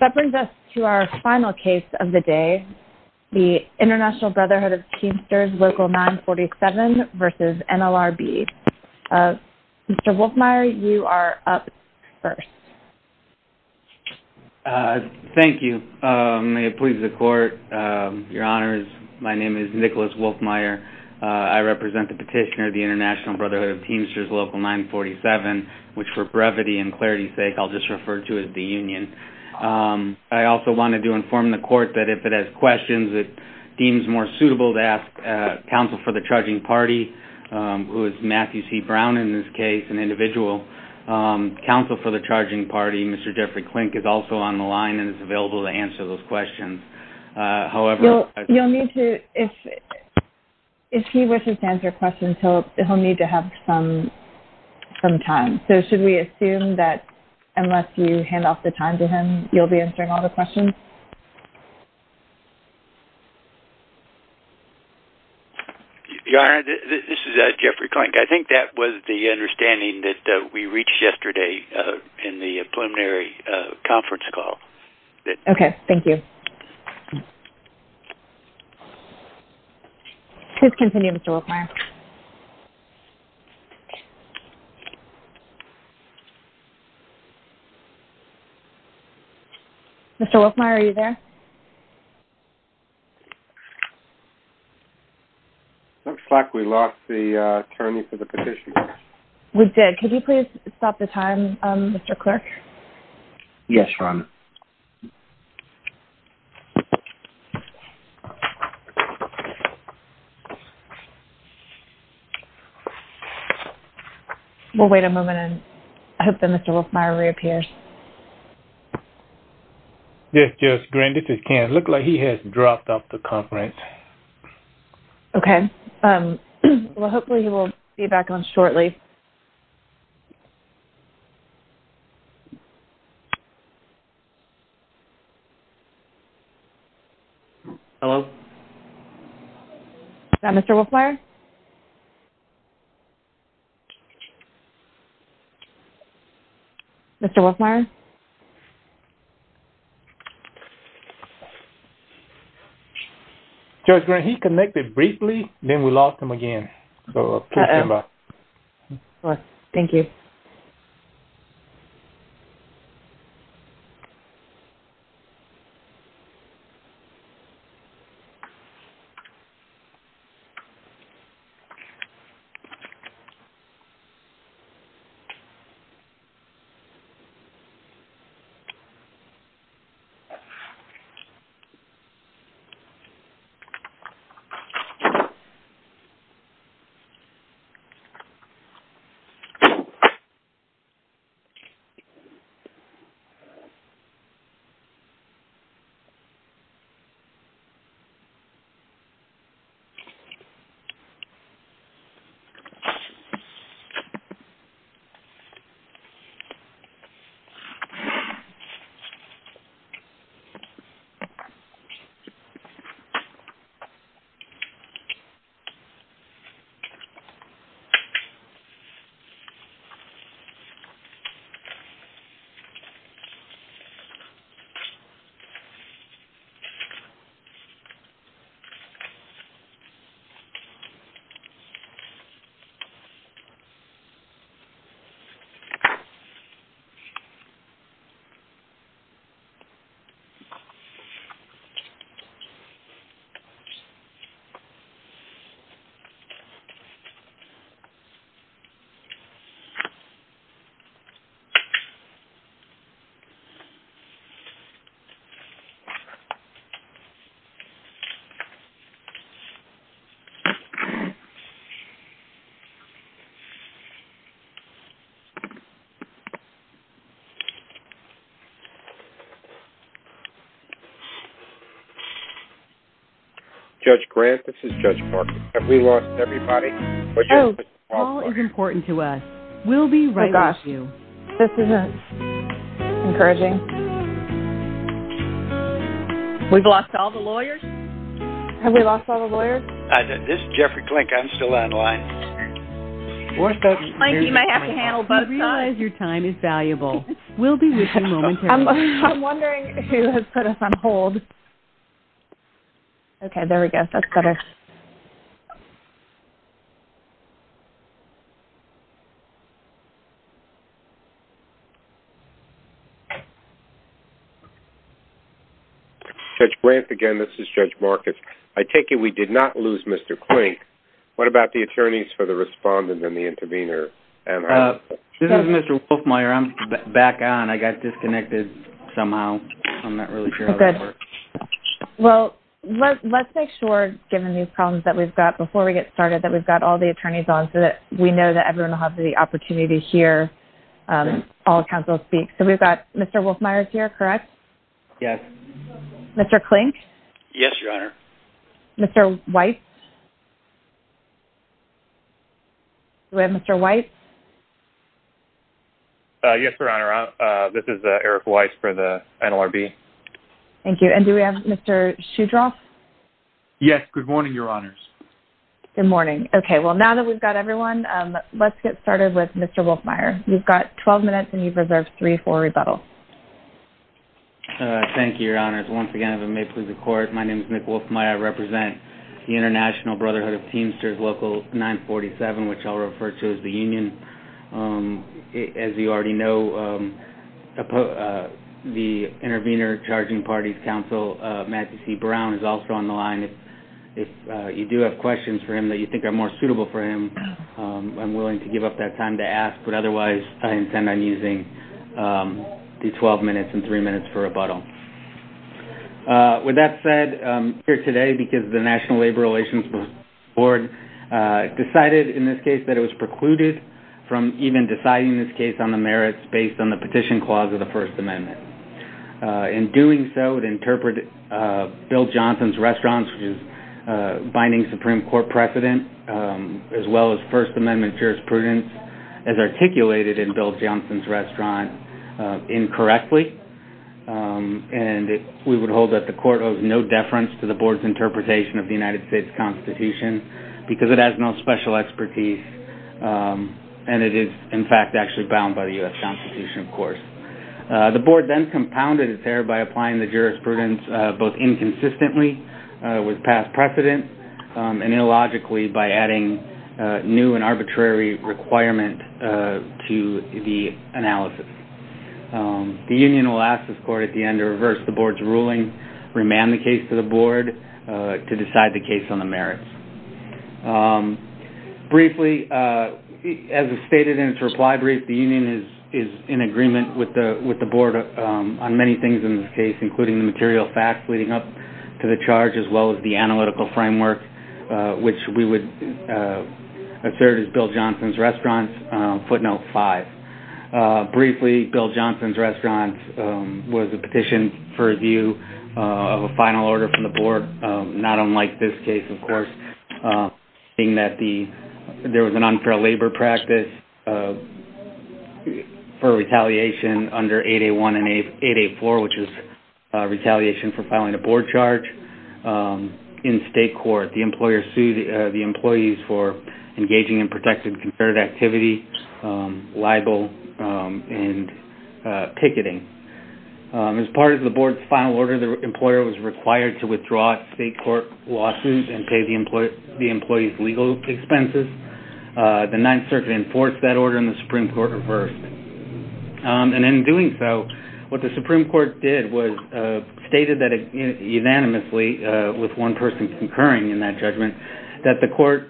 That brings us to our final case of the day, the International Brotherhood of Teamsters Local 947 v. NLRB. Mr. Wolfmeyer, you are up first. Thank you. May it please the Court, Your Honors, my name is Nicholas Wolfmeyer. I represent the petitioner of the International Brotherhood of Teamsters Local 947, which for brevity and clarity's sake I'll just refer to as the union. I also wanted to inform the Court that if it has questions, it deems more suitable to ask counsel for the charging party, who is Matthew C. Brown in this case, an individual. Counsel for the charging party, Mr. Jeffrey Klink, is also on the line and is available to answer those questions. If he wishes to answer questions, he'll need to have some time. So should we assume that unless you hand off the time to him, you'll be answering all the questions? Your Honor, this is Jeffrey Klink. I think that was the understanding that we reached yesterday in the preliminary conference call. Okay. Thank you. Please continue, Mr. Wolfmeyer. Mr. Wolfmeyer, are you there? It looks like we lost the attorney for the petitioner. We did. Could you please stop the time, Mr. Clerk? Yes, Your Honor. We'll wait a moment and I hope that Mr. Wolfmeyer reappears. Yes, Judge Green. This is Ken. It looks like he has dropped off the conference. Okay. Well, hopefully he will be back on shortly. Hello? Is that Mr. Wolfmeyer? Mr. Wolfmeyer? Mr. Wolfmeyer? Judge Green, he connected briefly, then we lost him again. Please stand by. Thank you. Mr. Wolfmeyer? Mr. Wolfmeyer? Mr. Wolfmeyer? Mr. Wolfmeyer? Oh, gosh. This isn't encouraging. We've lost all the lawyers? Have we lost all the lawyers? This is Jeffrey Klink. I'm still online. Klink, you may have to handle both sides. I'm wondering who has put us on hold. Okay. There we go. That's better. Judge Grant, again, this is Judge Marcus. I take it we did not lose Mr. Klink. What about the attorneys for the respondent and the intervener? This is Mr. Wolfmeyer. I'm back on. I got disconnected somehow. I'm not really sure how that works. Well, let's make sure, given these problems that we've got before we get started, that we've got all the attorneys on so that we know that everyone will have the opportunity to hear all counsel speak. So we've got Mr. Wolfmeyer here, correct? Yes. Mr. Klink? Yes, Your Honor. Mr. Weiss? Do we have Mr. Weiss? Yes, Your Honor. This is Eric Weiss for the NLRB. Thank you. And do we have Mr. Shudroff? Yes. Good morning, Your Honors. Good morning. Okay. Well, now that we've got everyone, let's get started with Mr. Wolfmeyer. You've got 12 minutes and you've reserved three for rebuttal. Thank you, Your Honors. Once again, if it may please the Court, my name is Nick Wolfmeyer. I represent the International Brotherhood of Teamsters Local 947, which I'll refer to as the union. As you already know, the Intervenor Charging Parties Counsel, Matt C. Brown, is also on the line. If you do have questions for him that you think are more suitable for him, I'm willing to give up that time to ask, but otherwise I intend on using the 12 minutes and three minutes for rebuttal. With that said, I'm here today because the National Labor Relations Board decided in this case that it was precluded from even deciding this case on the merits based on the petition clause of the First Amendment. In doing so, it interpreted Bill Johnson's restaurant, which is binding Supreme Court precedent, as well as First Amendment jurisprudence, as articulated in Bill Johnson's restaurant, incorrectly. We would hold that the Court owes no deference to the Board's interpretation of the United States Constitution because it has no special expertise and it is, in fact, actually bound by the U.S. Constitution, of course. The Board then compounded its error by applying the jurisprudence both inconsistently with past precedent and illogically by adding new and arbitrary requirement to the analysis. The Union will ask this Court at the end to reverse the Board's ruling, remand the case to the Board, to decide the case on the merits. Briefly, as is stated in its reply brief, the Union is in agreement with the Board on many things in this case, including the material facts leading up to the charge, as well as the analytical framework, which we would assert is Bill Johnson's restaurant's footnote five. Briefly, Bill Johnson's restaurant was a petition for review of a final order from the Board, not unlike this case, of course, seeing that there was an unfair labor practice for retaliation under 8A1 and 8A4, which is retaliation for filing a Board charge in state court. The employer sued the employees for engaging in protected concerted activity, libel, and picketing. As part of the Board's final order, the employer was required to withdraw state court lawsuits and pay the employees legal expenses. The Ninth Circuit enforced that order, and the Supreme Court reversed. And in doing so, what the Supreme Court did was stated unanimously, with one person concurring in that judgment, that the court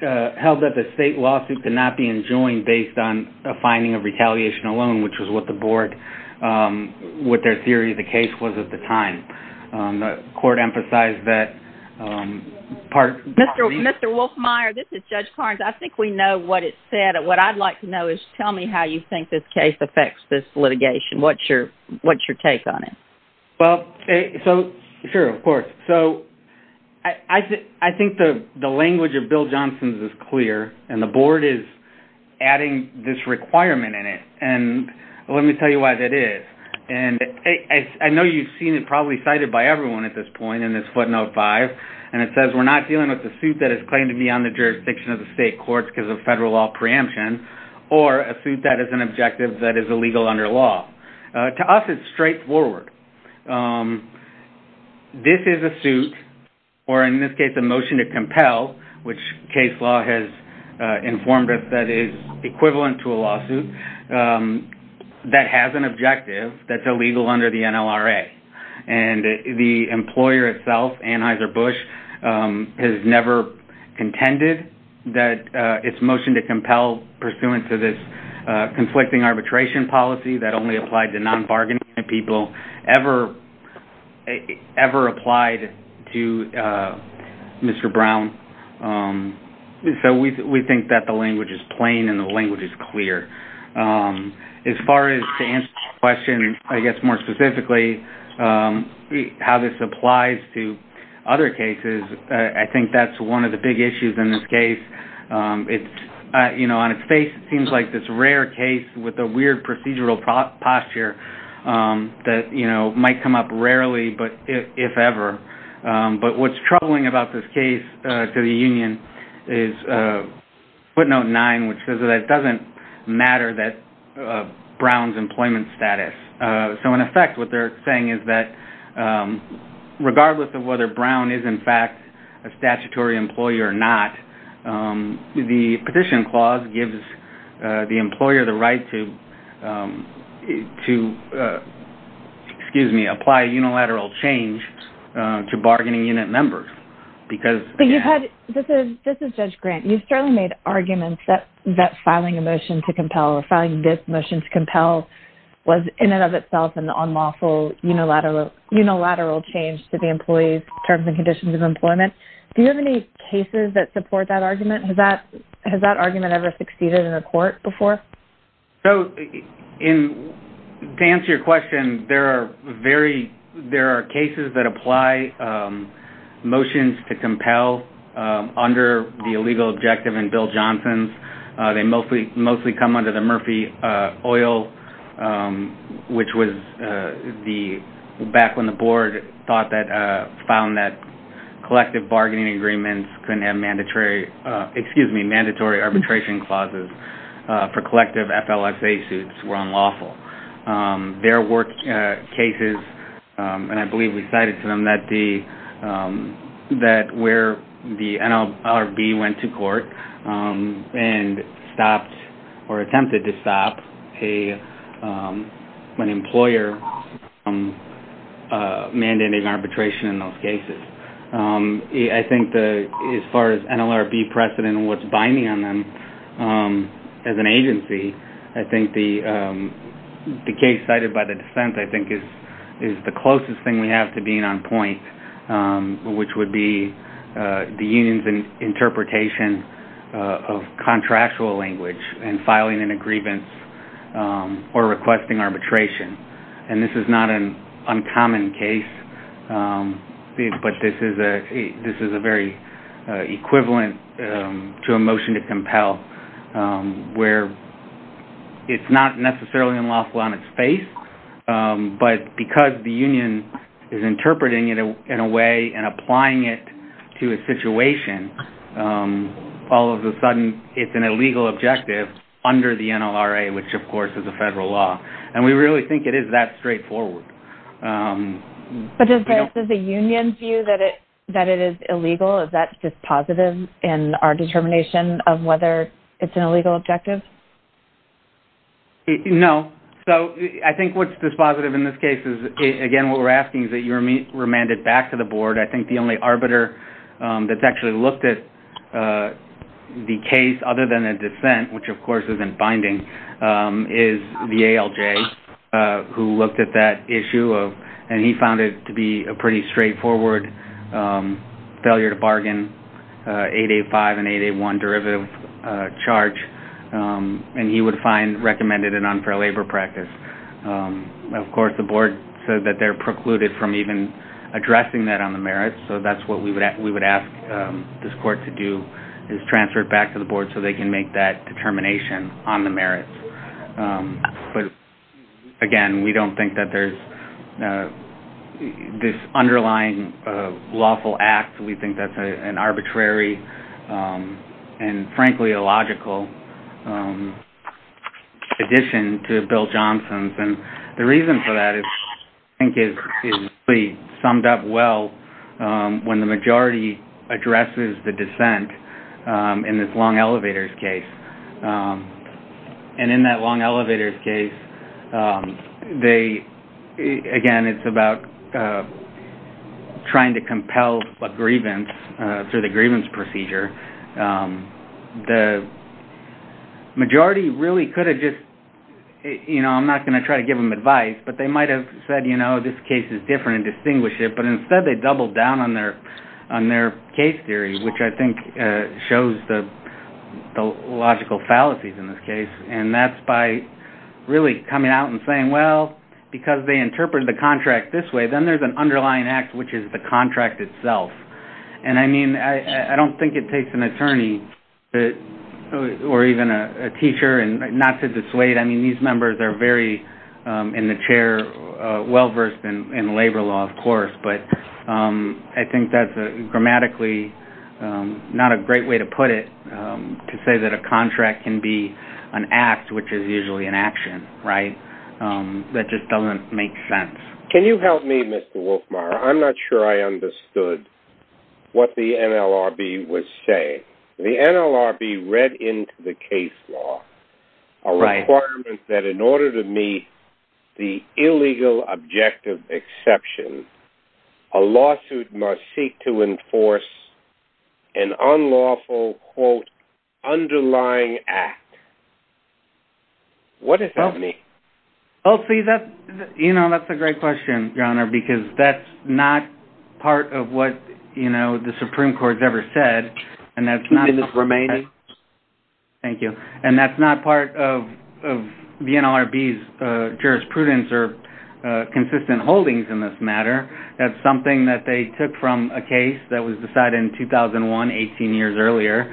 held that the state lawsuit could not be enjoined based on a finding of retaliation alone, which was what the Board, what their theory of the case was at the time. The court emphasized that part... Mr. Wolfmeier, this is Judge Carnes. I think we know what it said. What I'd like to know is tell me how you think this case affects this litigation. What's your take on it? Well, so sure, of course. So I think the language of Bill Johnson's is clear, and the Board is adding this requirement in it. And let me tell you why that is. And I know you've seen it probably cited by everyone at this point in this footnote 5, and it says we're not dealing with a suit that is claimed to be on the jurisdiction of the state courts because of federal law preemption or a suit that is an objective that is illegal under law. To us, it's straightforward. This is a suit, or in this case a motion to compel, which case law has informed us that is equivalent to a lawsuit, that has an objective that's illegal under the NLRA. And the employer itself, Anheuser-Busch, has never contended that its motion to compel, pursuant to this conflicting arbitration policy that only applied to non-bargaining people, ever applied to Mr. Brown. So we think that the language is plain and the language is clear. As far as to answer the question, I guess more specifically, how this applies to other cases, I think that's one of the big issues in this case. On its face, it seems like this rare case with a weird procedural posture that might come up rarely, but if ever. But what's troubling about this case to the union is footnote 9, which says that it doesn't matter that Brown's employment status. So in effect, what they're saying is that regardless of whether Brown is in fact a statutory employer or not, the petition clause gives the employer the right to apply unilateral change to bargaining unit members. This is Judge Grant. You've certainly made arguments that filing a motion to compel or filing this motion to compel was in and of itself an unlawful unilateral change to the employee's terms and conditions of employment. Do you have any cases that support that argument? Has that argument ever succeeded in a court before? So to answer your question, there are cases that apply motions to compel under the illegal objective in Bill Johnson's. They mostly come under the Murphy Oil, which was back when the board found that collective bargaining agreements couldn't have mandatory arbitration clauses for collective FLSA suits were unlawful. There were cases, and I believe we cited to them, that where the NLRB went to court and stopped or attempted to stop an employer mandating arbitration in those cases. I think as far as NLRB precedent and what's binding on them as an agency, I think the case cited by the defense is the closest thing we have to being on point, which would be the union's interpretation of contractual language and filing an aggrievance or requesting arbitration. And this is not an uncommon case, but this is a very equivalent to a motion to compel where it's not necessarily unlawful on its face, but because the union is interpreting it in a way and applying it to a situation, all of a sudden it's an illegal objective under the NLRA, which of course is a federal law. And we really think it is that straightforward. But does the union view that it is illegal? Is that dispositive in our determination of whether it's an illegal objective? No. So I think what's dispositive in this case is, again, what we're asking is that you remand it back to the board. I think the only arbiter that's actually looked at the case other than a dissent, which of course isn't binding, is the ALJ, who looked at that issue and he found it to be a pretty straightforward failure to bargain, 8A5 and 8A1 derivative charge, and he would find recommended an unfair labor practice. Of course, the board said that they're precluded from even addressing that on the merits, so that's what we would ask this court to do, is transfer it back to the board so they can make that determination on the merits. But again, we don't think that there's this underlying lawful act. We think that's an arbitrary and frankly illogical addition to Bill Johnson's. The reason for that, I think, is summed up well when the majority addresses the dissent in this long elevators case. And in that long elevators case, again, it's about trying to compel a grievance through the grievance procedure. The majority really could have just, you know, I'm not going to try to give them advice, but they might have said, you know, this case is different and distinguish it, but instead they doubled down on their case theory, which I think shows the logical fallacies in this case. And that's by really coming out and saying, well, because they interpreted the contract this way, then there's an underlying act, which is the contract itself. And, I mean, I don't think it takes an attorney or even a teacher not to dissuade. I mean, these members are very in the chair, well-versed in labor law, of course, but I think that's grammatically not a great way to put it, to say that a contract can be an act, which is usually an action, right, that just doesn't make sense. Can you help me, Mr. Wolfmeier? I'm not sure I understood what the NLRB was saying. The NLRB read into the case law a requirement that in order to meet the illegal objective exception, a lawsuit must seek to enforce an unlawful, quote, underlying act. What does that mean? Well, see, you know, that's a great question, Your Honor, because that's not part of what, you know, the Supreme Court's ever said, and that's not part of the NLRB's jurisprudence or consistent holdings in this matter. That's something that they took from a case that was decided in 2001, 18 years earlier,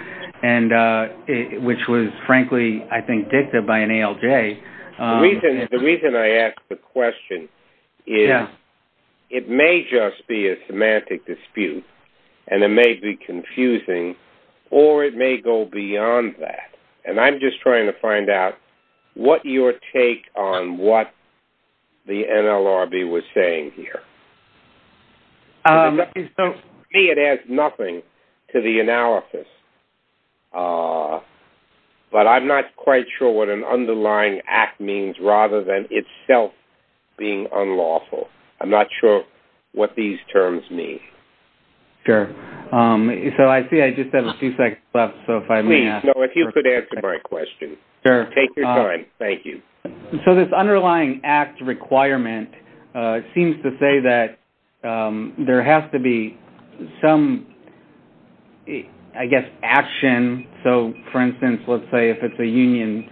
which was frankly, I think, dictated by an ALJ. The reason I ask the question is it may just be a semantic dispute, and it may be confusing, or it may go beyond that, and I'm just trying to find out what your take on what the NLRB was saying here. To me, it adds nothing to the analysis, but I'm not quite sure what an underlying act means rather than itself being unlawful. I'm not sure what these terms mean. Sure. So I see I just have a few seconds left, so if I may ask... Please, if you could answer my question. Sure. Take your time. Thank you. So this underlying act requirement seems to say that there has to be some, I guess, action. So, for instance, let's say if it's a union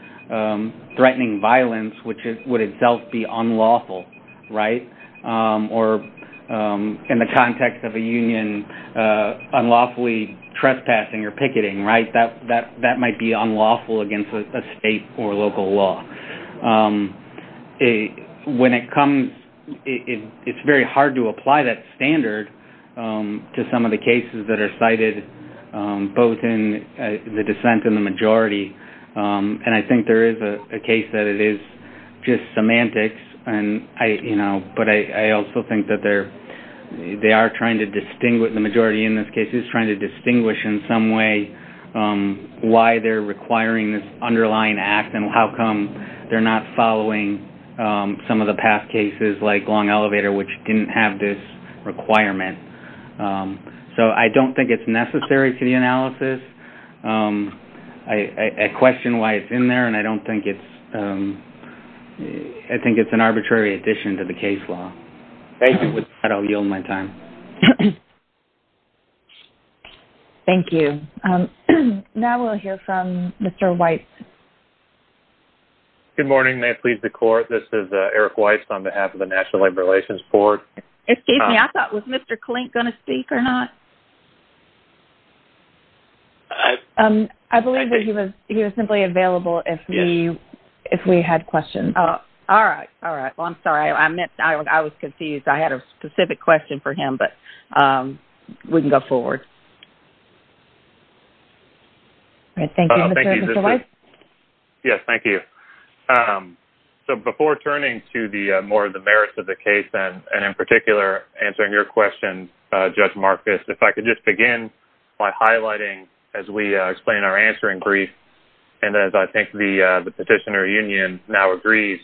threatening violence, which would itself be unlawful, right? Or in the context of a union unlawfully trespassing or picketing, right? That might be unlawful against a state or local law. When it comes... It's very hard to apply that standard to some of the cases that are cited, both in the dissent and the majority, and I think there is a case that it is just semantics, but I also think that they are trying to distinguish... The majority in this case is trying to distinguish in some way why they're requiring this underlying act and how come they're not following some of the past cases like Long Elevator, which didn't have this requirement. So I don't think it's necessary to the analysis. I question why it's in there, and I don't think it's... I think it's an arbitrary addition to the case law. Thank you. With that, I'll yield my time. Thank you. Now we'll hear from Mr. Weiss. Good morning. May it please the Court, this is Eric Weiss on behalf of the National Labor Relations Board. Excuse me, I thought, was Mr. Klink going to speak or not? I believe that he was simply available if we had questions. All right, all right. Well, I'm sorry, I meant I was confused. I had a specific question for him, but we can go forward. Thank you, Mr. Weiss. Yes, thank you. So before turning to more of the merits of the case, and in particular answering your question, Judge Marcus, if I could just begin by highlighting, as we explain our answering brief, and as I think the Petitioner Union now agrees,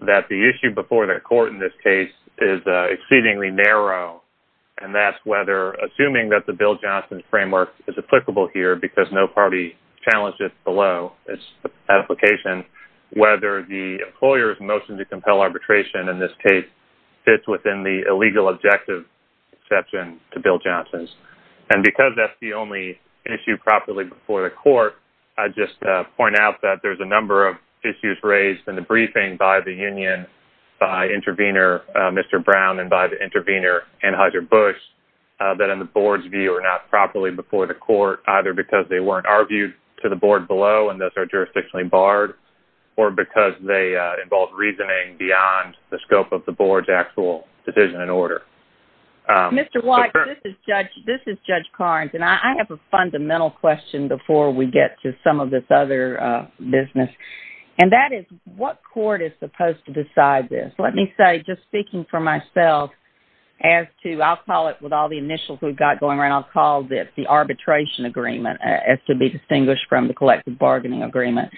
that the issue before the Court in this case is exceedingly narrow, and that's whether, assuming that the Bill Johnson framework is applicable here, because no party challenged it below its application, whether the employer's motion to compel arbitration in this case fits within the illegal objective exception to Bill Johnson's. And because that's the only issue properly before the Court, I'd just point out that there's a number of issues raised in the briefing by the Union, by Intervenor Mr. Brown and by the Intervenor Anheuser-Busch, that in the Board's view are not properly before the Court, either because they weren't argued to the Board below and thus are jurisdictionally barred, or because they involve reasoning beyond the scope of the Board's actual decision and order. Mr. White, this is Judge Carnes, and I have a fundamental question before we get to some of this other business, and that is, what Court is supposed to decide this? Let me say, just speaking for myself, as to, I'll call it, with all the initials we've got going around, I'll call this the arbitration agreement, as to be distinguished from the collective bargaining agreement.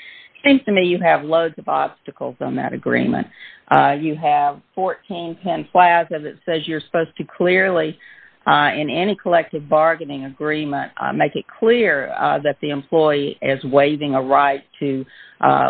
To me, you have loads of obstacles on that agreement. You have 1410 Plaza that says you're supposed to clearly, in any collective bargaining agreement, make it clear that the employee is waiving a right to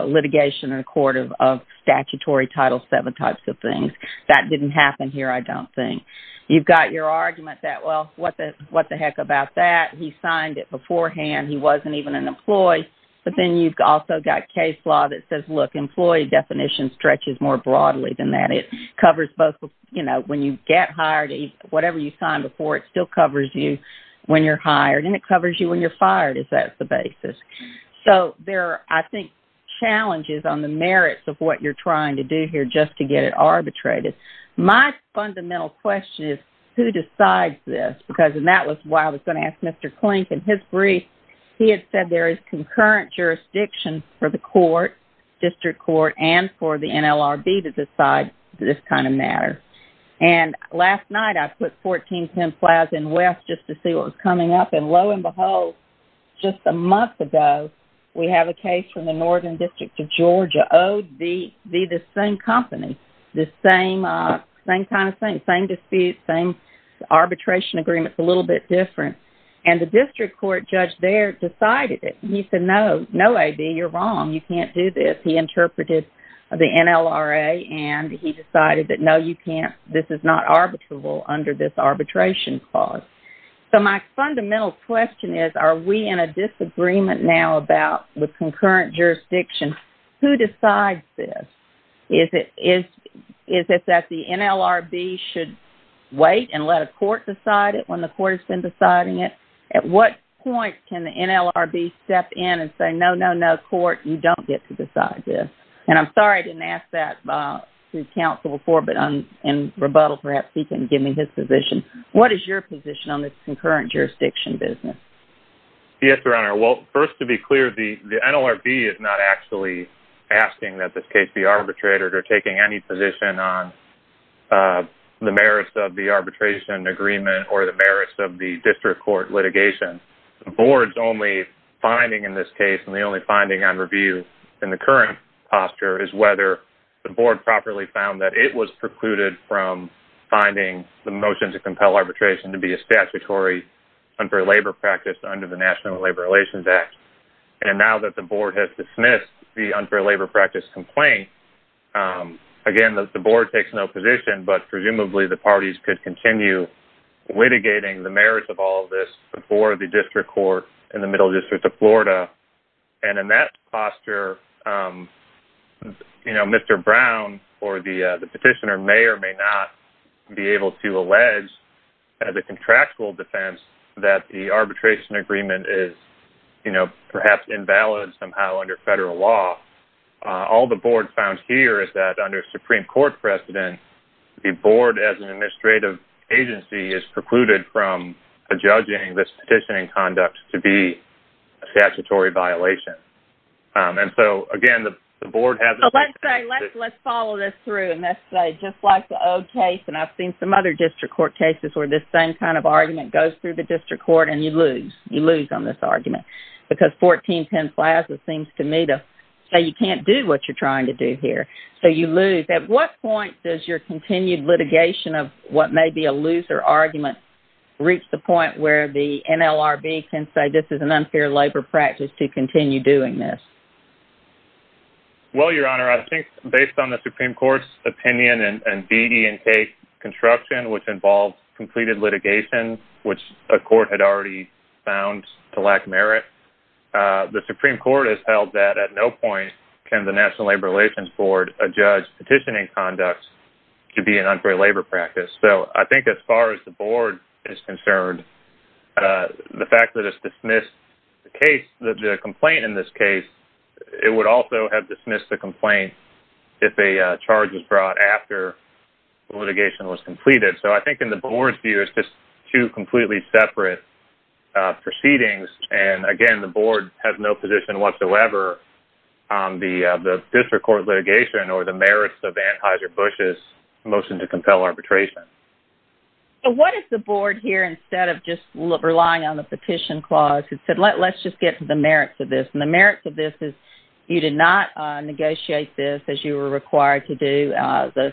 litigation in a court of statutory Title VII types of things. That didn't happen here, I don't think. You've got your argument that, well, what the heck about that? He signed it beforehand. He wasn't even an employee. But then you've also got case law that says, look, employee definition stretches more broadly than that. It covers both, you know, when you get hired, whatever you signed before, it still covers you when you're hired, and it covers you when you're fired, if that's the basis. So there are, I think, challenges on the merits of what you're trying to do here just to get it arbitrated. My fundamental question is, who decides this? Because, and that was why I was going to ask Mr. Klink, in his brief, he had said there is concurrent jurisdiction for the court, district court, and for the NLRB to decide this kind of matter. And last night I put 1410 Plaza in West just to see what was coming up, and lo and behold, just a month ago, we have a case from the Northern District of Georgia, owed the same company, the same kind of thing, same dispute, same arbitration agreement, it's a little bit different. And the district court judge there decided it. He said, no, no, AB, you're wrong, you can't do this. He interpreted the NLRA, and he decided that, no, you can't, this is not arbitrable under this arbitration clause. So my fundamental question is, are we in a disagreement now about the concurrent jurisdiction? Who decides this? Is it that the NLRB should wait and let a court decide it when the court has been deciding it? At what point can the NLRB step in and say, no, no, no, court, you don't get to decide this. And I'm sorry I didn't ask that to counsel before, but in rebuttal, perhaps he can give me his position. What is your position on this concurrent jurisdiction business? Yes, Your Honor, well, first to be clear, the NLRB is not actually asking that this case be arbitrated or taking any position on the merits of the arbitration agreement or the merits of the district court litigation. The board's only finding in this case, and the only finding on review in the current posture, is whether the board properly found that it was precluded from finding the motion to compel arbitration to be a statutory unfair labor practice under the National Labor Relations Act. And now that the board has dismissed the unfair labor practice complaint, again, the board takes no position, but presumably the parties could continue litigating the merits of all of this before the district court in the Middle District of Florida. And in that posture, you know, Mr. Brown or the petitioner may or may not be able to allege as a contractual defense that the arbitration agreement is, you know, perhaps invalid somehow under federal law. All the board found here is that under Supreme Court precedent, the board as an administrative agency is precluded from judging this petitioning conduct to be a statutory violation. And so, again, the board has... Well, let's say, let's follow this through, and let's say, just like the old case, and I've seen some other district court cases where this same kind of argument goes through the district court and you lose. You lose on this argument because 1410 Plaza seems to me to say you can't do what you're trying to do here. So you lose. Can the litigation of what may be a loser argument reach the point where the NLRB can say this is an unfair labor practice to continue doing this? Well, Your Honor, I think based on the Supreme Court's opinion and BD and K construction, which involves completed litigation, which a court had already found to lack merit, the Supreme Court has held that at no point can the National Labor Relations Board adjudge petitioning conduct to be an unfair labor practice. So I think as far as the board is concerned, the fact that it's dismissed the case, the complaint in this case, it would also have dismissed the complaint if a charge was brought after the litigation was completed. So I think in the board's view, it's just two completely separate proceedings. And, again, the board has no position whatsoever on the district court litigation or the merits of Anheuser-Busch motion to compel arbitration. So what is the board here instead of just relying on the petition clause that said let's just get to the merits of this? And the merits of this is you did not negotiate this as you were required to do. The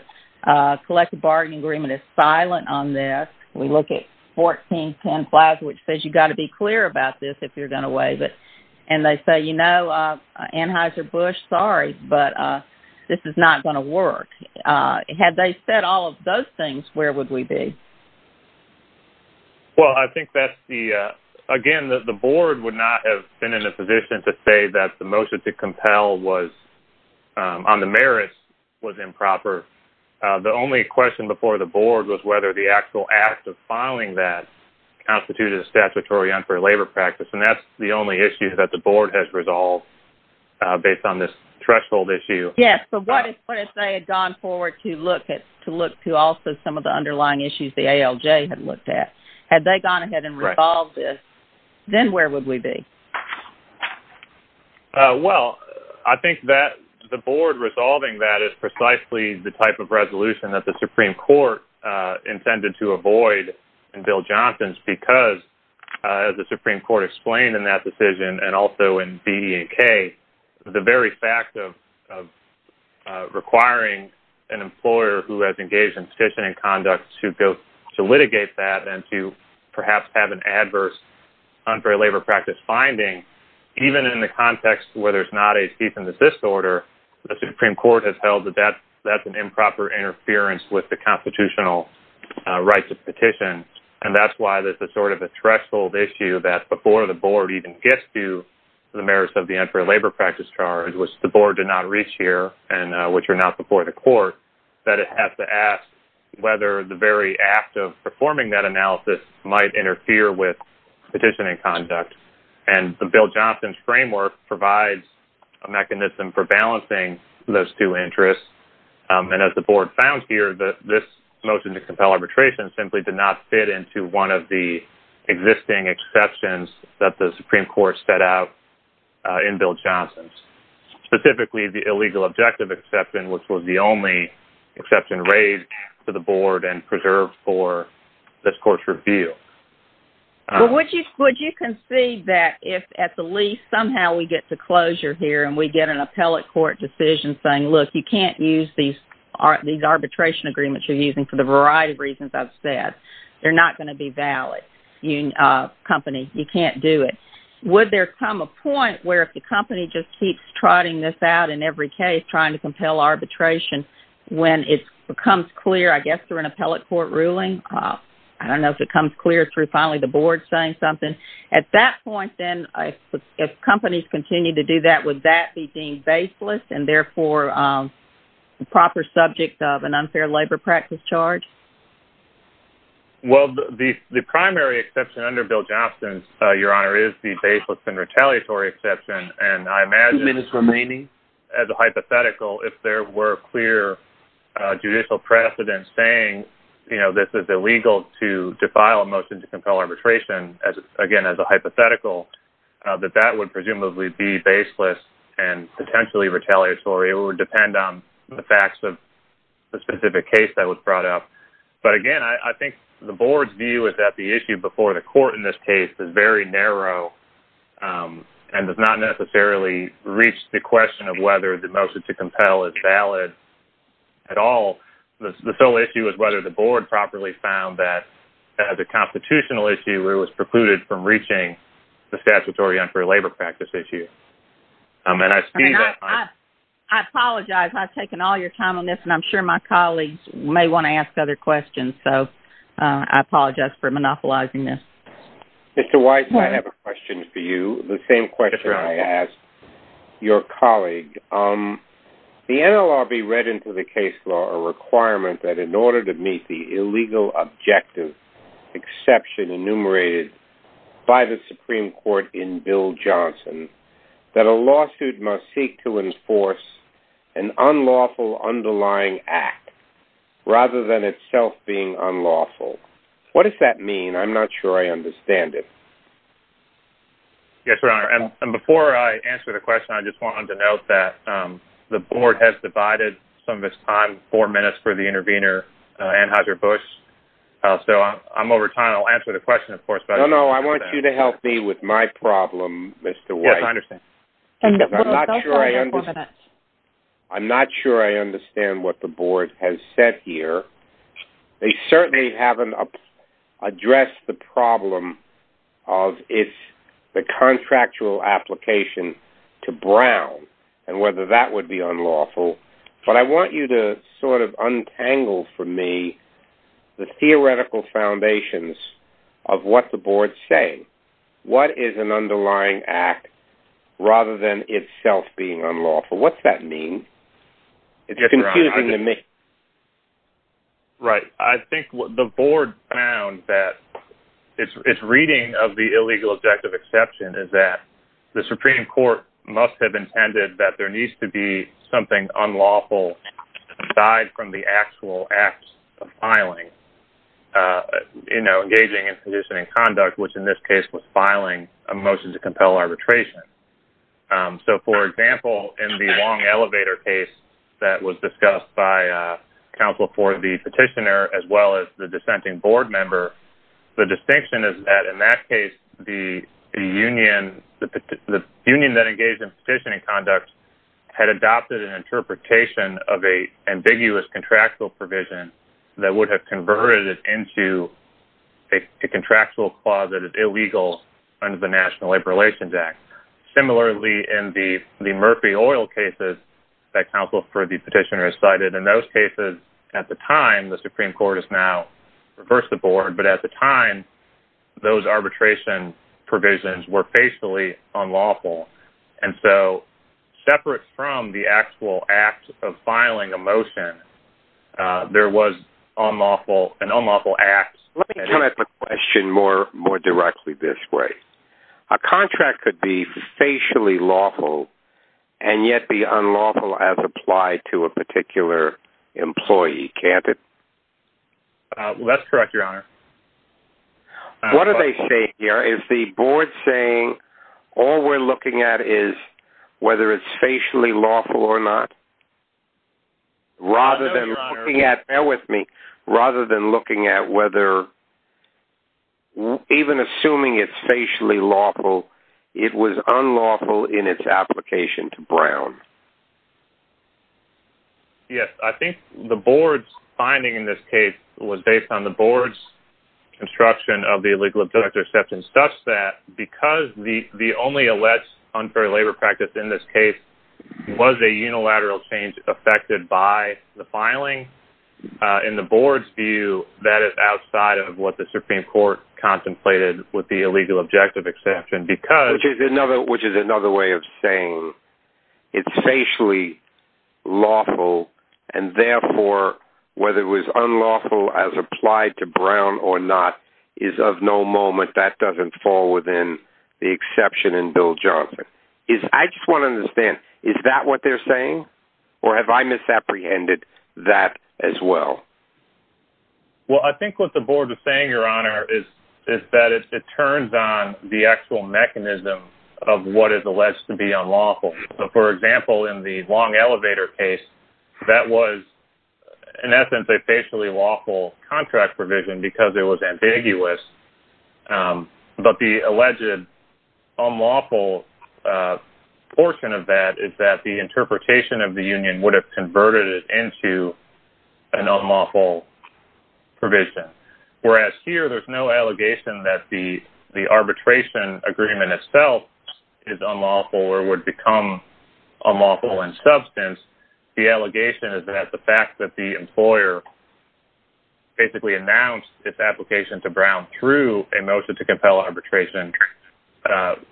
collective bargaining agreement is silent on this. We look at 1410-5, which says you've got to be clear about this if you're going to waive it. And they say, you know, Anheuser-Busch, sorry, but this is not going to work. Had they said all of those things, where would we be? Well, I think that's the, again, the board would not have been in a position to say that the motion to compel on the merits was improper. The only question before the board was whether the actual act of filing that constituted a statutory unfair labor practice. And that's the only issue that the board has resolved based on this threshold issue. Yes, but what if they had gone forward to look at, to look to also some of the underlying issues the ALJ had looked at? Had they gone ahead and resolved this, then where would we be? Well, I think that the board resolving that is precisely the type of resolution that the Supreme Court intended to avoid in Bill Johnson's because, as the Supreme Court explained in that decision and also in BE&K, the very fact of requiring a lawyer who has engaged in petitioning conduct to litigate that and to perhaps have an adverse unfair labor practice finding, even in the context where there's not a cease and desist order, the Supreme Court has held that that's an improper interference with the constitutional rights of petition. And that's why this is sort of a threshold issue that before the board even gets to the merits of the unfair labor practice charge, which the board did not reach here has to ask whether the very act of performing that analysis might interfere with petitioning conduct. And Bill Johnson's framework provides a mechanism for balancing those two interests. And as the board found here, this motion to compel arbitration simply did not fit into one of the existing exceptions that the Supreme Court set out in Bill Johnson's. Specifically, the illegal objective exception, which was the only exception raised to the board and preserved for this court's review. Would you concede that if at the least somehow we get to closure here and we get an appellate court decision saying, look, you can't use these arbitration agreements you're using for the variety of reasons I've said. They're not going to be valid. Company, you can't do it. Would there come a point where if the company just keeps trotting this out in every case of trying to compel arbitration when it becomes clear, I guess, through an appellate court ruling? I don't know if it comes clear through finally the board saying something. At that point, then, if companies continue to do that, would that be deemed baseless and therefore a proper subject of an unfair labor practice charge? Well, the primary exception under Bill Johnson's, Your Honor, is the baseless and retaliatory exception. And I imagine... It would be hypothetical if there were clear judicial precedents saying, you know, this is illegal to file a motion to compel arbitration, again, as a hypothetical, that that would presumably be baseless and potentially retaliatory. It would depend on the facts of the specific case that was brought up. But again, I think the board's view is that the issue before the court in this case is very narrow and does not necessarily reach to the extent that a motion to compel is valid at all. The sole issue is whether the board properly found that as a constitutional issue it was precluded from reaching the statutory unfair labor practice issue. And I see that... I apologize. I've taken all your time on this, and I'm sure my colleagues may want to ask other questions. So I apologize for monopolizing this. Mr. Weiss, I have a question for you. The same question I asked the other day. The NLRB read into the case law a requirement that in order to meet the illegal objective exception enumerated by the Supreme Court in Bill Johnson that a lawsuit must seek to enforce an unlawful underlying act rather than itself being unlawful. What does that mean? I'm not sure I understand it. Yes, Your Honor. And before I answer the question, the board has divided some of its time to four minutes for the intervener, Anheuser-Busch. So I'm over time. I'll answer the question, of course. No, no, I want you to help me with my problem, Mr. Weiss. Yes, I understand. I'm not sure I understand what the board has said here. They certainly haven't addressed the problem of the contractual application to Brown and whether that would be unlawful. But I want you to sort of untangle for me the theoretical foundations of what the board is saying. What is an underlying act rather than itself being unlawful? What's that mean? It's confusing to me. Right. I think what the board found that its reading of the illegal objective exception is that the Supreme Court must have intended that there needs to be something unlawful aside from the actual acts of filing, engaging in sedition and conduct, which in this case was filing a motion to compel arbitration. So, for example, in the long elevator case that was discussed by counsel for the petitioner as well as the dissenting board member, the distinction is that in that case, engaging in sedition and conduct had adopted an interpretation of an ambiguous contractual provision that would have converted it into a contractual clause that is illegal under the National Labor Relations Act. Similarly, in the Murphy Oil cases that counsel for the petitioner cited in those cases, at the time, the Supreme Court has now reversed the board, but at the time, those arbitration provisions were facially unlawful. And so, separate from the actual act of filing a motion, there was an unlawful act. Let me come at the question more directly this way. A contract could be facially lawful and yet be unlawful as applied to a particular employee, can't it? That's correct, Your Honor. What are they saying here? Is the board saying all we're looking at is whether it's facially lawful or not? Rather than looking at, bear with me, rather than looking at whether, even assuming it's facially lawful, it was unlawful in its application to Brown. Yes, I think the board's finding in this case was based on the board's view of the illegal objective exception such that because the only alleged unfair labor practice in this case was a unilateral change affected by the filing, in the board's view, that is outside of what the Supreme Court contemplated with the illegal objective exception because... Which is another way of saying it's facially lawful and therefore, whether it was unlawful as applied to Brown or not we have no moment that doesn't fall within the exception in Bill Johnson. I just want to understand, is that what they're saying? Or have I misapprehended that as well? Well, I think what the board is saying, Your Honor, is that it turns on the actual mechanism of what is alleged to be unlawful. For example, in the long elevator case, that was, in essence, a facially lawful contract provision because it was ambiguous. But the alleged unlawful portion of that is that the interpretation of the union would have converted it into an unlawful provision. Whereas here, there's no allegation that the arbitration agreement itself is unlawful or would become unlawful in substance. The allegation is that the fact that the employer basically announced its application to Brown through a motion to compel arbitration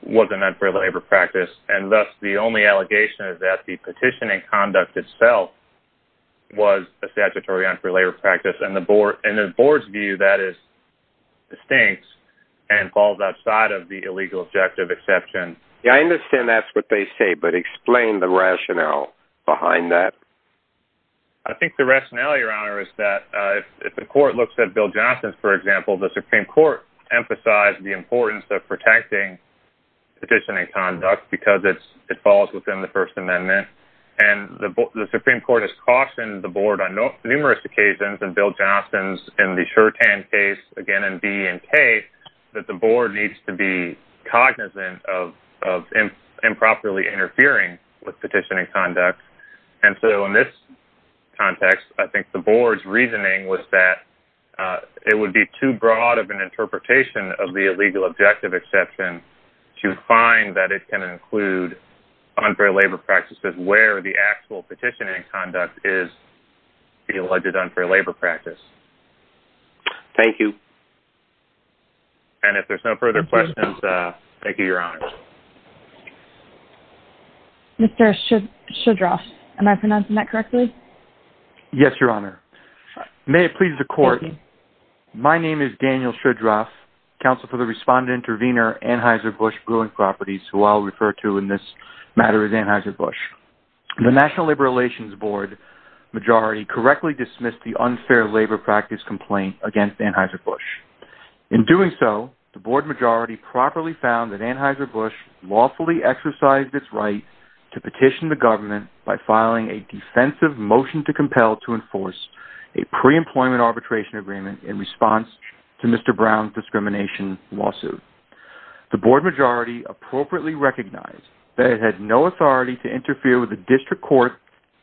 was an unfair labor practice. And thus, the only allegation is that the petition in conduct itself was a statutory unfair labor practice. And the board's view of that is distinct and falls outside of the illegal objective exception. I understand that's what they say, but explain the rationale behind that. I think the rationale, Your Honor, is that if the court looks at Bill Johnson's, for example, the Supreme Court emphasized the importance of protecting petition in conduct because it falls within the First Amendment. And the Supreme Court has cautioned the board on numerous occasions in Bill Johnson's and the Shurtan case, again, in B and K, that the board needs to be cognizant of improperly interfering with petition in conduct. And so, in this context, I think the board's reasoning was that it would be too broad of an interpretation of the illegal objective exception to find that it can include unfair labor practices where the actual petition in conduct is the alleged unfair labor practice. Thank you. And if there's no further questions, thank you, Your Honor. Mr. Shedroff, am I pronouncing that correctly? Yes, Your Honor. May it please the Court. Thank you. My name is Daniel Shedroff, counsel for the Respondent-Intervenor Anheuser-Busch Brewing Properties, who I'll refer to in this matter as Anheuser-Busch. The National Labor Relations Board majority correctly dismissed the unfair labor practice complaint against Anheuser-Busch. In doing so, the board majority properly found that Anheuser-Busch lawfully exercised its right to petition the government by filing a defensive motion to compel to enforce a pre-employment arbitration agreement in response to Mr. Brown's discrimination lawsuit. The board majority appropriately recognized that it had no authority to interfere with the district court's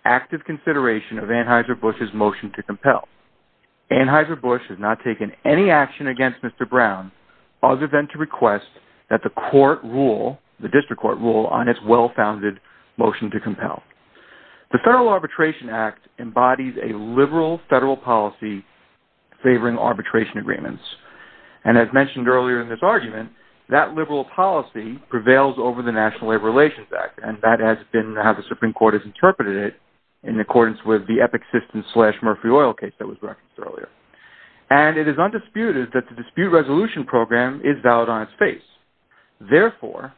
active consideration of Anheuser-Busch's motion to compel. Anheuser-Busch has not taken any action against Mr. Brown other than to request that the court rule, the district court rule, on its well-founded motion to compel. The Federal Arbitration Act embodies a liberal federal policy favoring arbitration agreements. And as mentioned earlier in this argument, that liberal policy prevails over the National Labor Relations Act, and that has been how the Supreme Court has interpreted it in accordance with the Epic System slash Murphree Oil case that was referenced earlier. And it is undisputed that the dispute resolution program is valid on its face. Therefore,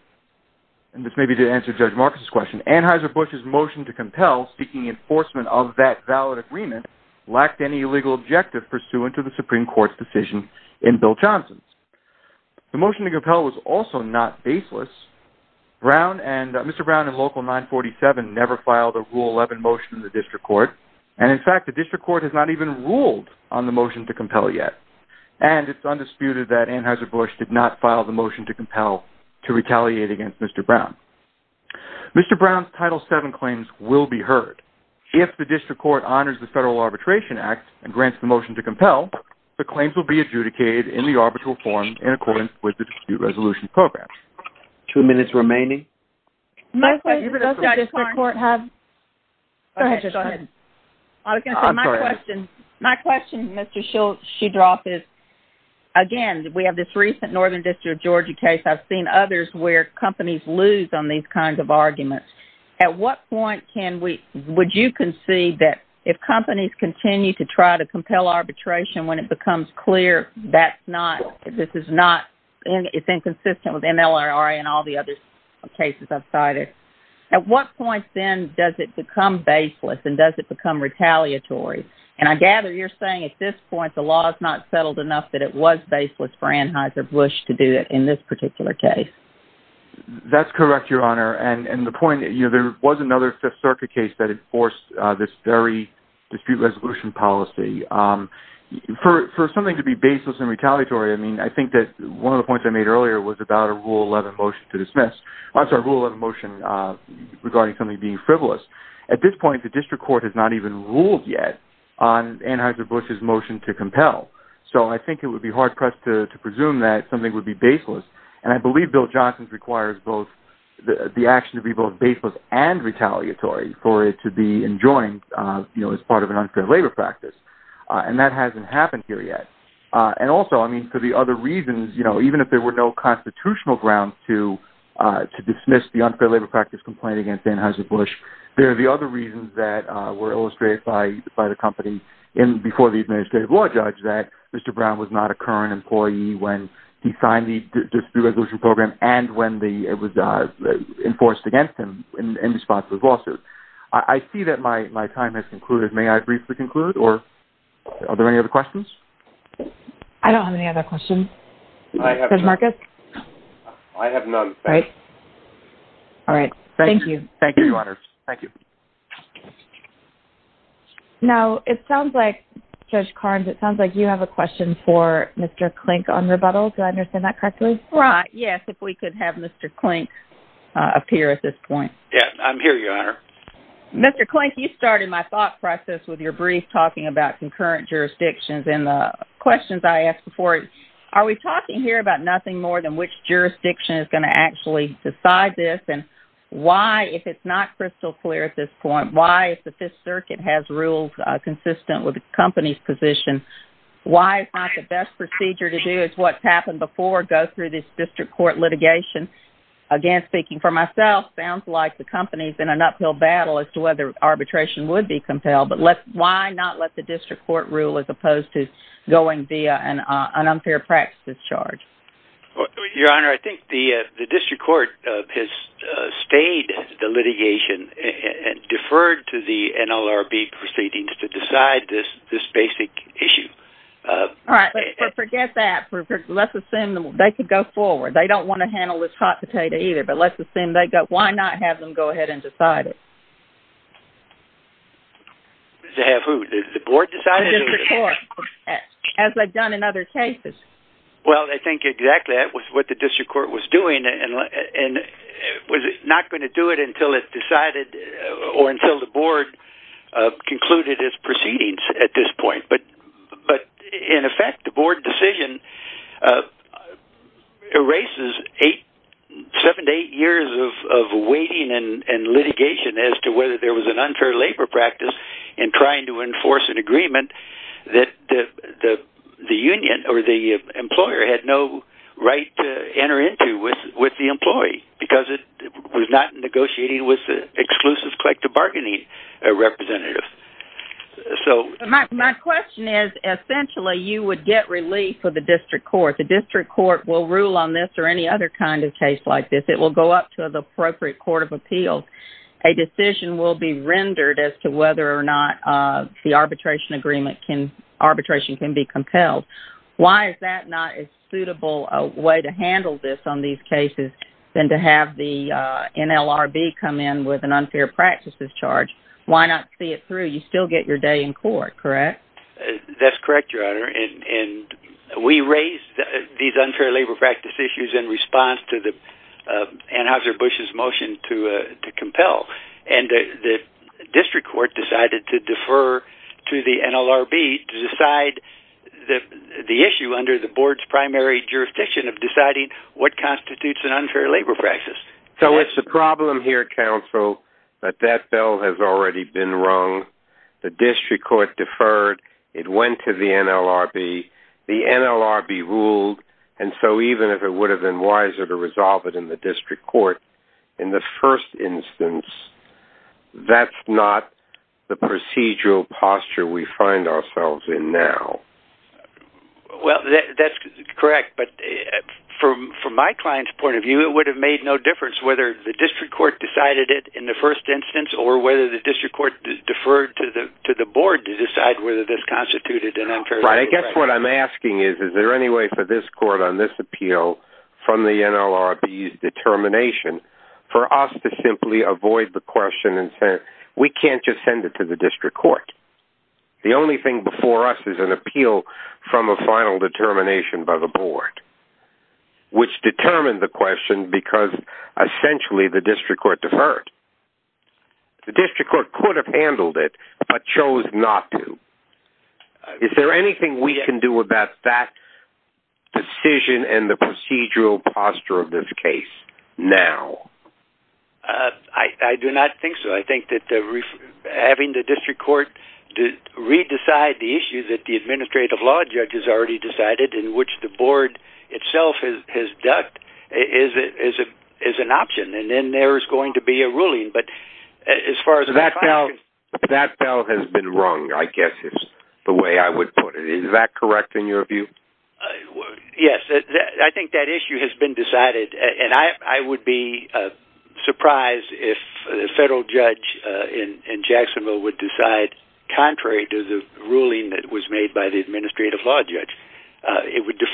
and this may be to answer Judge Marcus's question, Anheuser-Busch's motion to compel seeking enforcement of that valid agreement lacked any legal objective pursuant to the Supreme Court's decision in Bill Johnson's. The motion to compel was also not baseless. Mr. Brown and Local 947 never filed a Rule 11 motion in the district court. And in fact, the district court has not even ruled on the motion to compel yet. And it's undisputed that Anheuser-Busch did not file the motion to compel to retaliate against Mr. Brown. Mr. Brown's motion to compel has not occurred. If the district court honors the Federal Arbitration Act and grants the motion to compel, the claims will be adjudicated in the arbitral form in accordance with the dispute resolution program. Two minutes remaining. My question Mr. Shedroth is, again, we have this recent Northern District of Georgia case. I've seen others where companies lose on these kinds of arguments. At what point can we, would you concede that if companies continue to try to compel arbitration when it becomes clear that's not, this is not, it's inconsistent with NLRRA and all the other cases I've cited, at what point then does it become baseless and does it become retaliatory? And I gather you're saying at this point the law is not settled enough that it was baseless for Anheuser-Busch to do it in this particular case. That's correct Your Honor. And the point, you know, there was another Fifth Circuit case that enforced this very dispute resolution policy. For something to be baseless and retaliatory, I mean, I think that one of the points I made earlier was about a Rule 11 motion regarding something being frivolous. At this point the district court has not even ruled yet on Anheuser-Busch's grounds to compel. So I think it would be hard pressed to presume that something would be baseless. And I believe Bill Johnson requires both the action to be both baseless and retaliatory for it to be enjoined as part of an unfair labor practice. And that hasn't happened here yet. And also, I mean, for the other reasons, even if there were no constitutional grounds to dismiss the unfair labor practice complaint against Anheuser-Busch, there are the other reasons that were illustrated by the company before the administrative law judge that Mr. Brown was not a current employee when he signed the dispute resolution program and when it was enforced against him in response to his complaint. So, I have none. All right. Thank you. Thank you, Your Honor. Thank you. Now, it sounds like, Judge Carnes, it sounds like you have a question for Mr. Klink on rebuttal. Do I understand that correctly? Right. Yes, if we could have Mr. Klink appear at this point. Yes, I'm here, Your Honor. Mr. Klink, you started my thought process with your brief talking about concurrent jurisdictions and the questions I asked before. Are we talking here about nothing more than which jurisdiction is going to actually decide this and why, if it's not crystal clear at this point, why is the Fifth Circuit has rules consistent with the company's position? Why is not the best procedure to do is what happened before go through this district court litigation? Again, speaking for myself, sounds like the company's in an uphill battle as to whether arbitration would be compelled, but why not let the district court rule as opposed to going via an unfair practice charge? Your Honor, I think the district court has stayed the litigation and deferred to the NLRB proceedings to decide this basic issue. All right, but forget that. Let's assume they could go forward. They don't want to handle this hot potato either, but let's let them go ahead and decide it. The board decided it? The district court, as they've done in other cases. Well, I think exactly that was what the district court was doing, and was it not going to do it until it decided or until the board concluded its proceedings at this point. But in effect, the board decision erases seven to eight years of waiting and litigation as to whether there was an unfair labor practice in trying to enforce an agreement that the union or the employer had no right to enter into with the employee, because it was not negotiating with the exclusive collective bargaining representative. My question is, essentially, you would get relief for the district court. The district court will rule on this. A decision will be rendered as to whether or not the arbitration can be compelled. Why is that not if you think there is a suitable way to handle this on these cases than to have the NLRB come in with an unfair practices charge, why not see it through? You still get your day in court, correct? That's correct, Your Honor. And we raised these unfair labor practice issues in response to Anheuser-Busch's motion to compel. And the district court decided to defer to the NLRB to decide the issue under the board's primary jurisdiction of deciding what constitutes an unfair labor practice. So it's a problem here, counsel, that that the district court deferred, it went to the NLRB, the NLRB ruled, and so even if it would have been wiser to resolve it in the district court, in the first instance, that's not the procedural posture we find ourselves in now. Well, that's why the district court deferred to the board to decide whether this constituted an unfair labor practice. Right. I guess what I'm asking is, is there any way for this court on this appeal from the NLRB's determination for us to simply avoid the question and we can't just send it to the district court? The only thing before us is an appeal from a final determination by the board, which determined the question because essentially the district court deferred. The district court could have handled it but chose not to. Is there anything we can do about that decision and the procedural posture of this case now? I do not think so. I think that having the district court re-decide the issue that the administrative law judge has already decided in which the board itself has ducked is an option. And then the decide whether it is right or wrong. Is that correct in your view? Yes. I think that issue has been decided. I would be surprised if the federal judge in Jacksonville would decide contrary to the ruling that was made by the administrative law judge. It would be a great opportunity to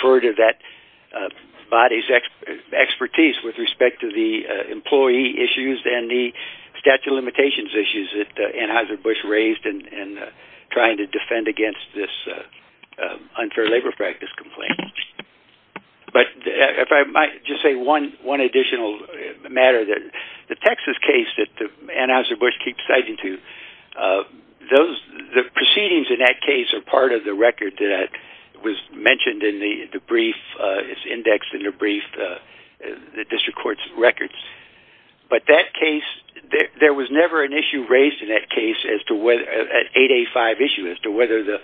try to defend against this unfair labor practice complaint. If I might say one additional matter, the Texas case that Anheuser-Busch keeps citing to, the proceedings in that case are part of the record that was mentioned in the brief, the court's records. But that case, there was never an issue raised in that case as to whether the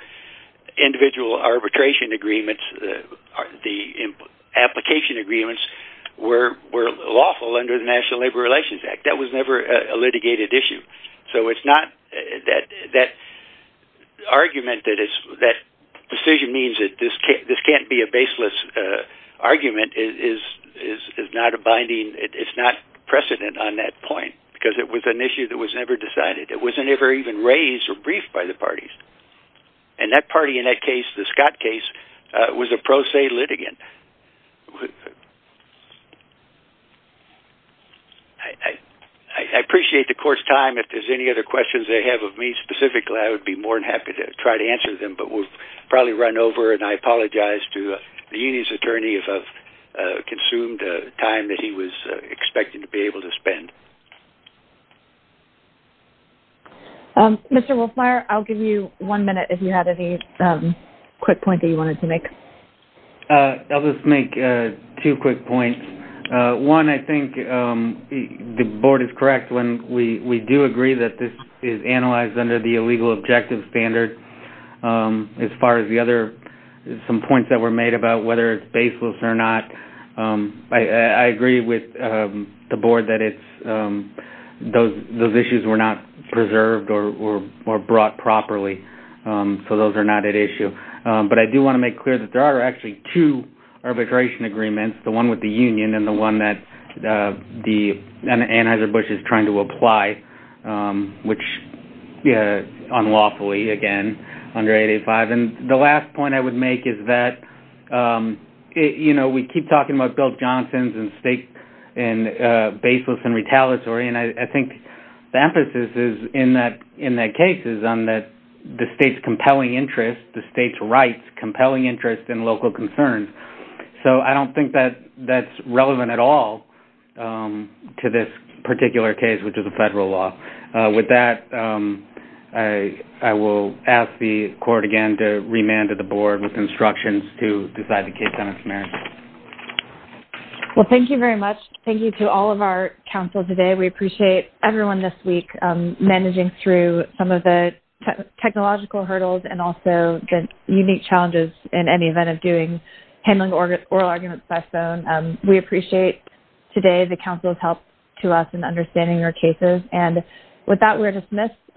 individual arbitration agreements, the application agreements, were lawful under the national labor relations act. That was never a litigated issue. So it's not that argument that decision means that this can't be a baseless argument is not a binding, it's not precedent on that point, because it was an issue that was never decided. It wasn't ever even raised or briefed by the parties. And that party in that case, the Scott Smith case was never considered as a litigant. I appreciate the court's time, if there's any other questions they have of me specifically, I would be happy to try to answer them. We will run over and I apologize to the attorney if I consumed the time he was expected to be able to spend. Mr. Wolfmeier, I'll give you one minute if you had any quick points you wanted to make. I'll just make two quick points. One, I think the board is correct when we do agree that this is analyzed under the illegal objective standard as far as we're concerned. The other points that were made about whether it's baseless or not, I agree with the board that those issues were not preserved or brought properly, so those are not at issue. But I do want to make clear that there are two arbitration agreements, the one with the union and the one with the And the other is that the Anheuser-Busch is trying to apply unlawfully again under 885. The last point I would make is that we keep talking about Bill Johnson's and baseless and retaliatory and I think the emphasis in that case is on the state's interest, the state's rights, compelling interest in local concerns, so I don't think that's relevant at all to this particular case which is a federal law. With that, I will ask the court again to remand the board with instructions to decide the case on its merits. Well, thank you very much. Thank you to all of our counsel today. We appreciate everyone this week managing through some of the technological hurdles and also the unique challenges in any event of doing handling oral today the counsel's help to us in understanding your cases, and with that, we're dismissed. Thank you. Thank you. Thank you. Thank you. Thank you. Thank you. Thank you. Thank you. Thank you. Thank you. Thank you. Thank you. Thank you. Thank you. Thank you.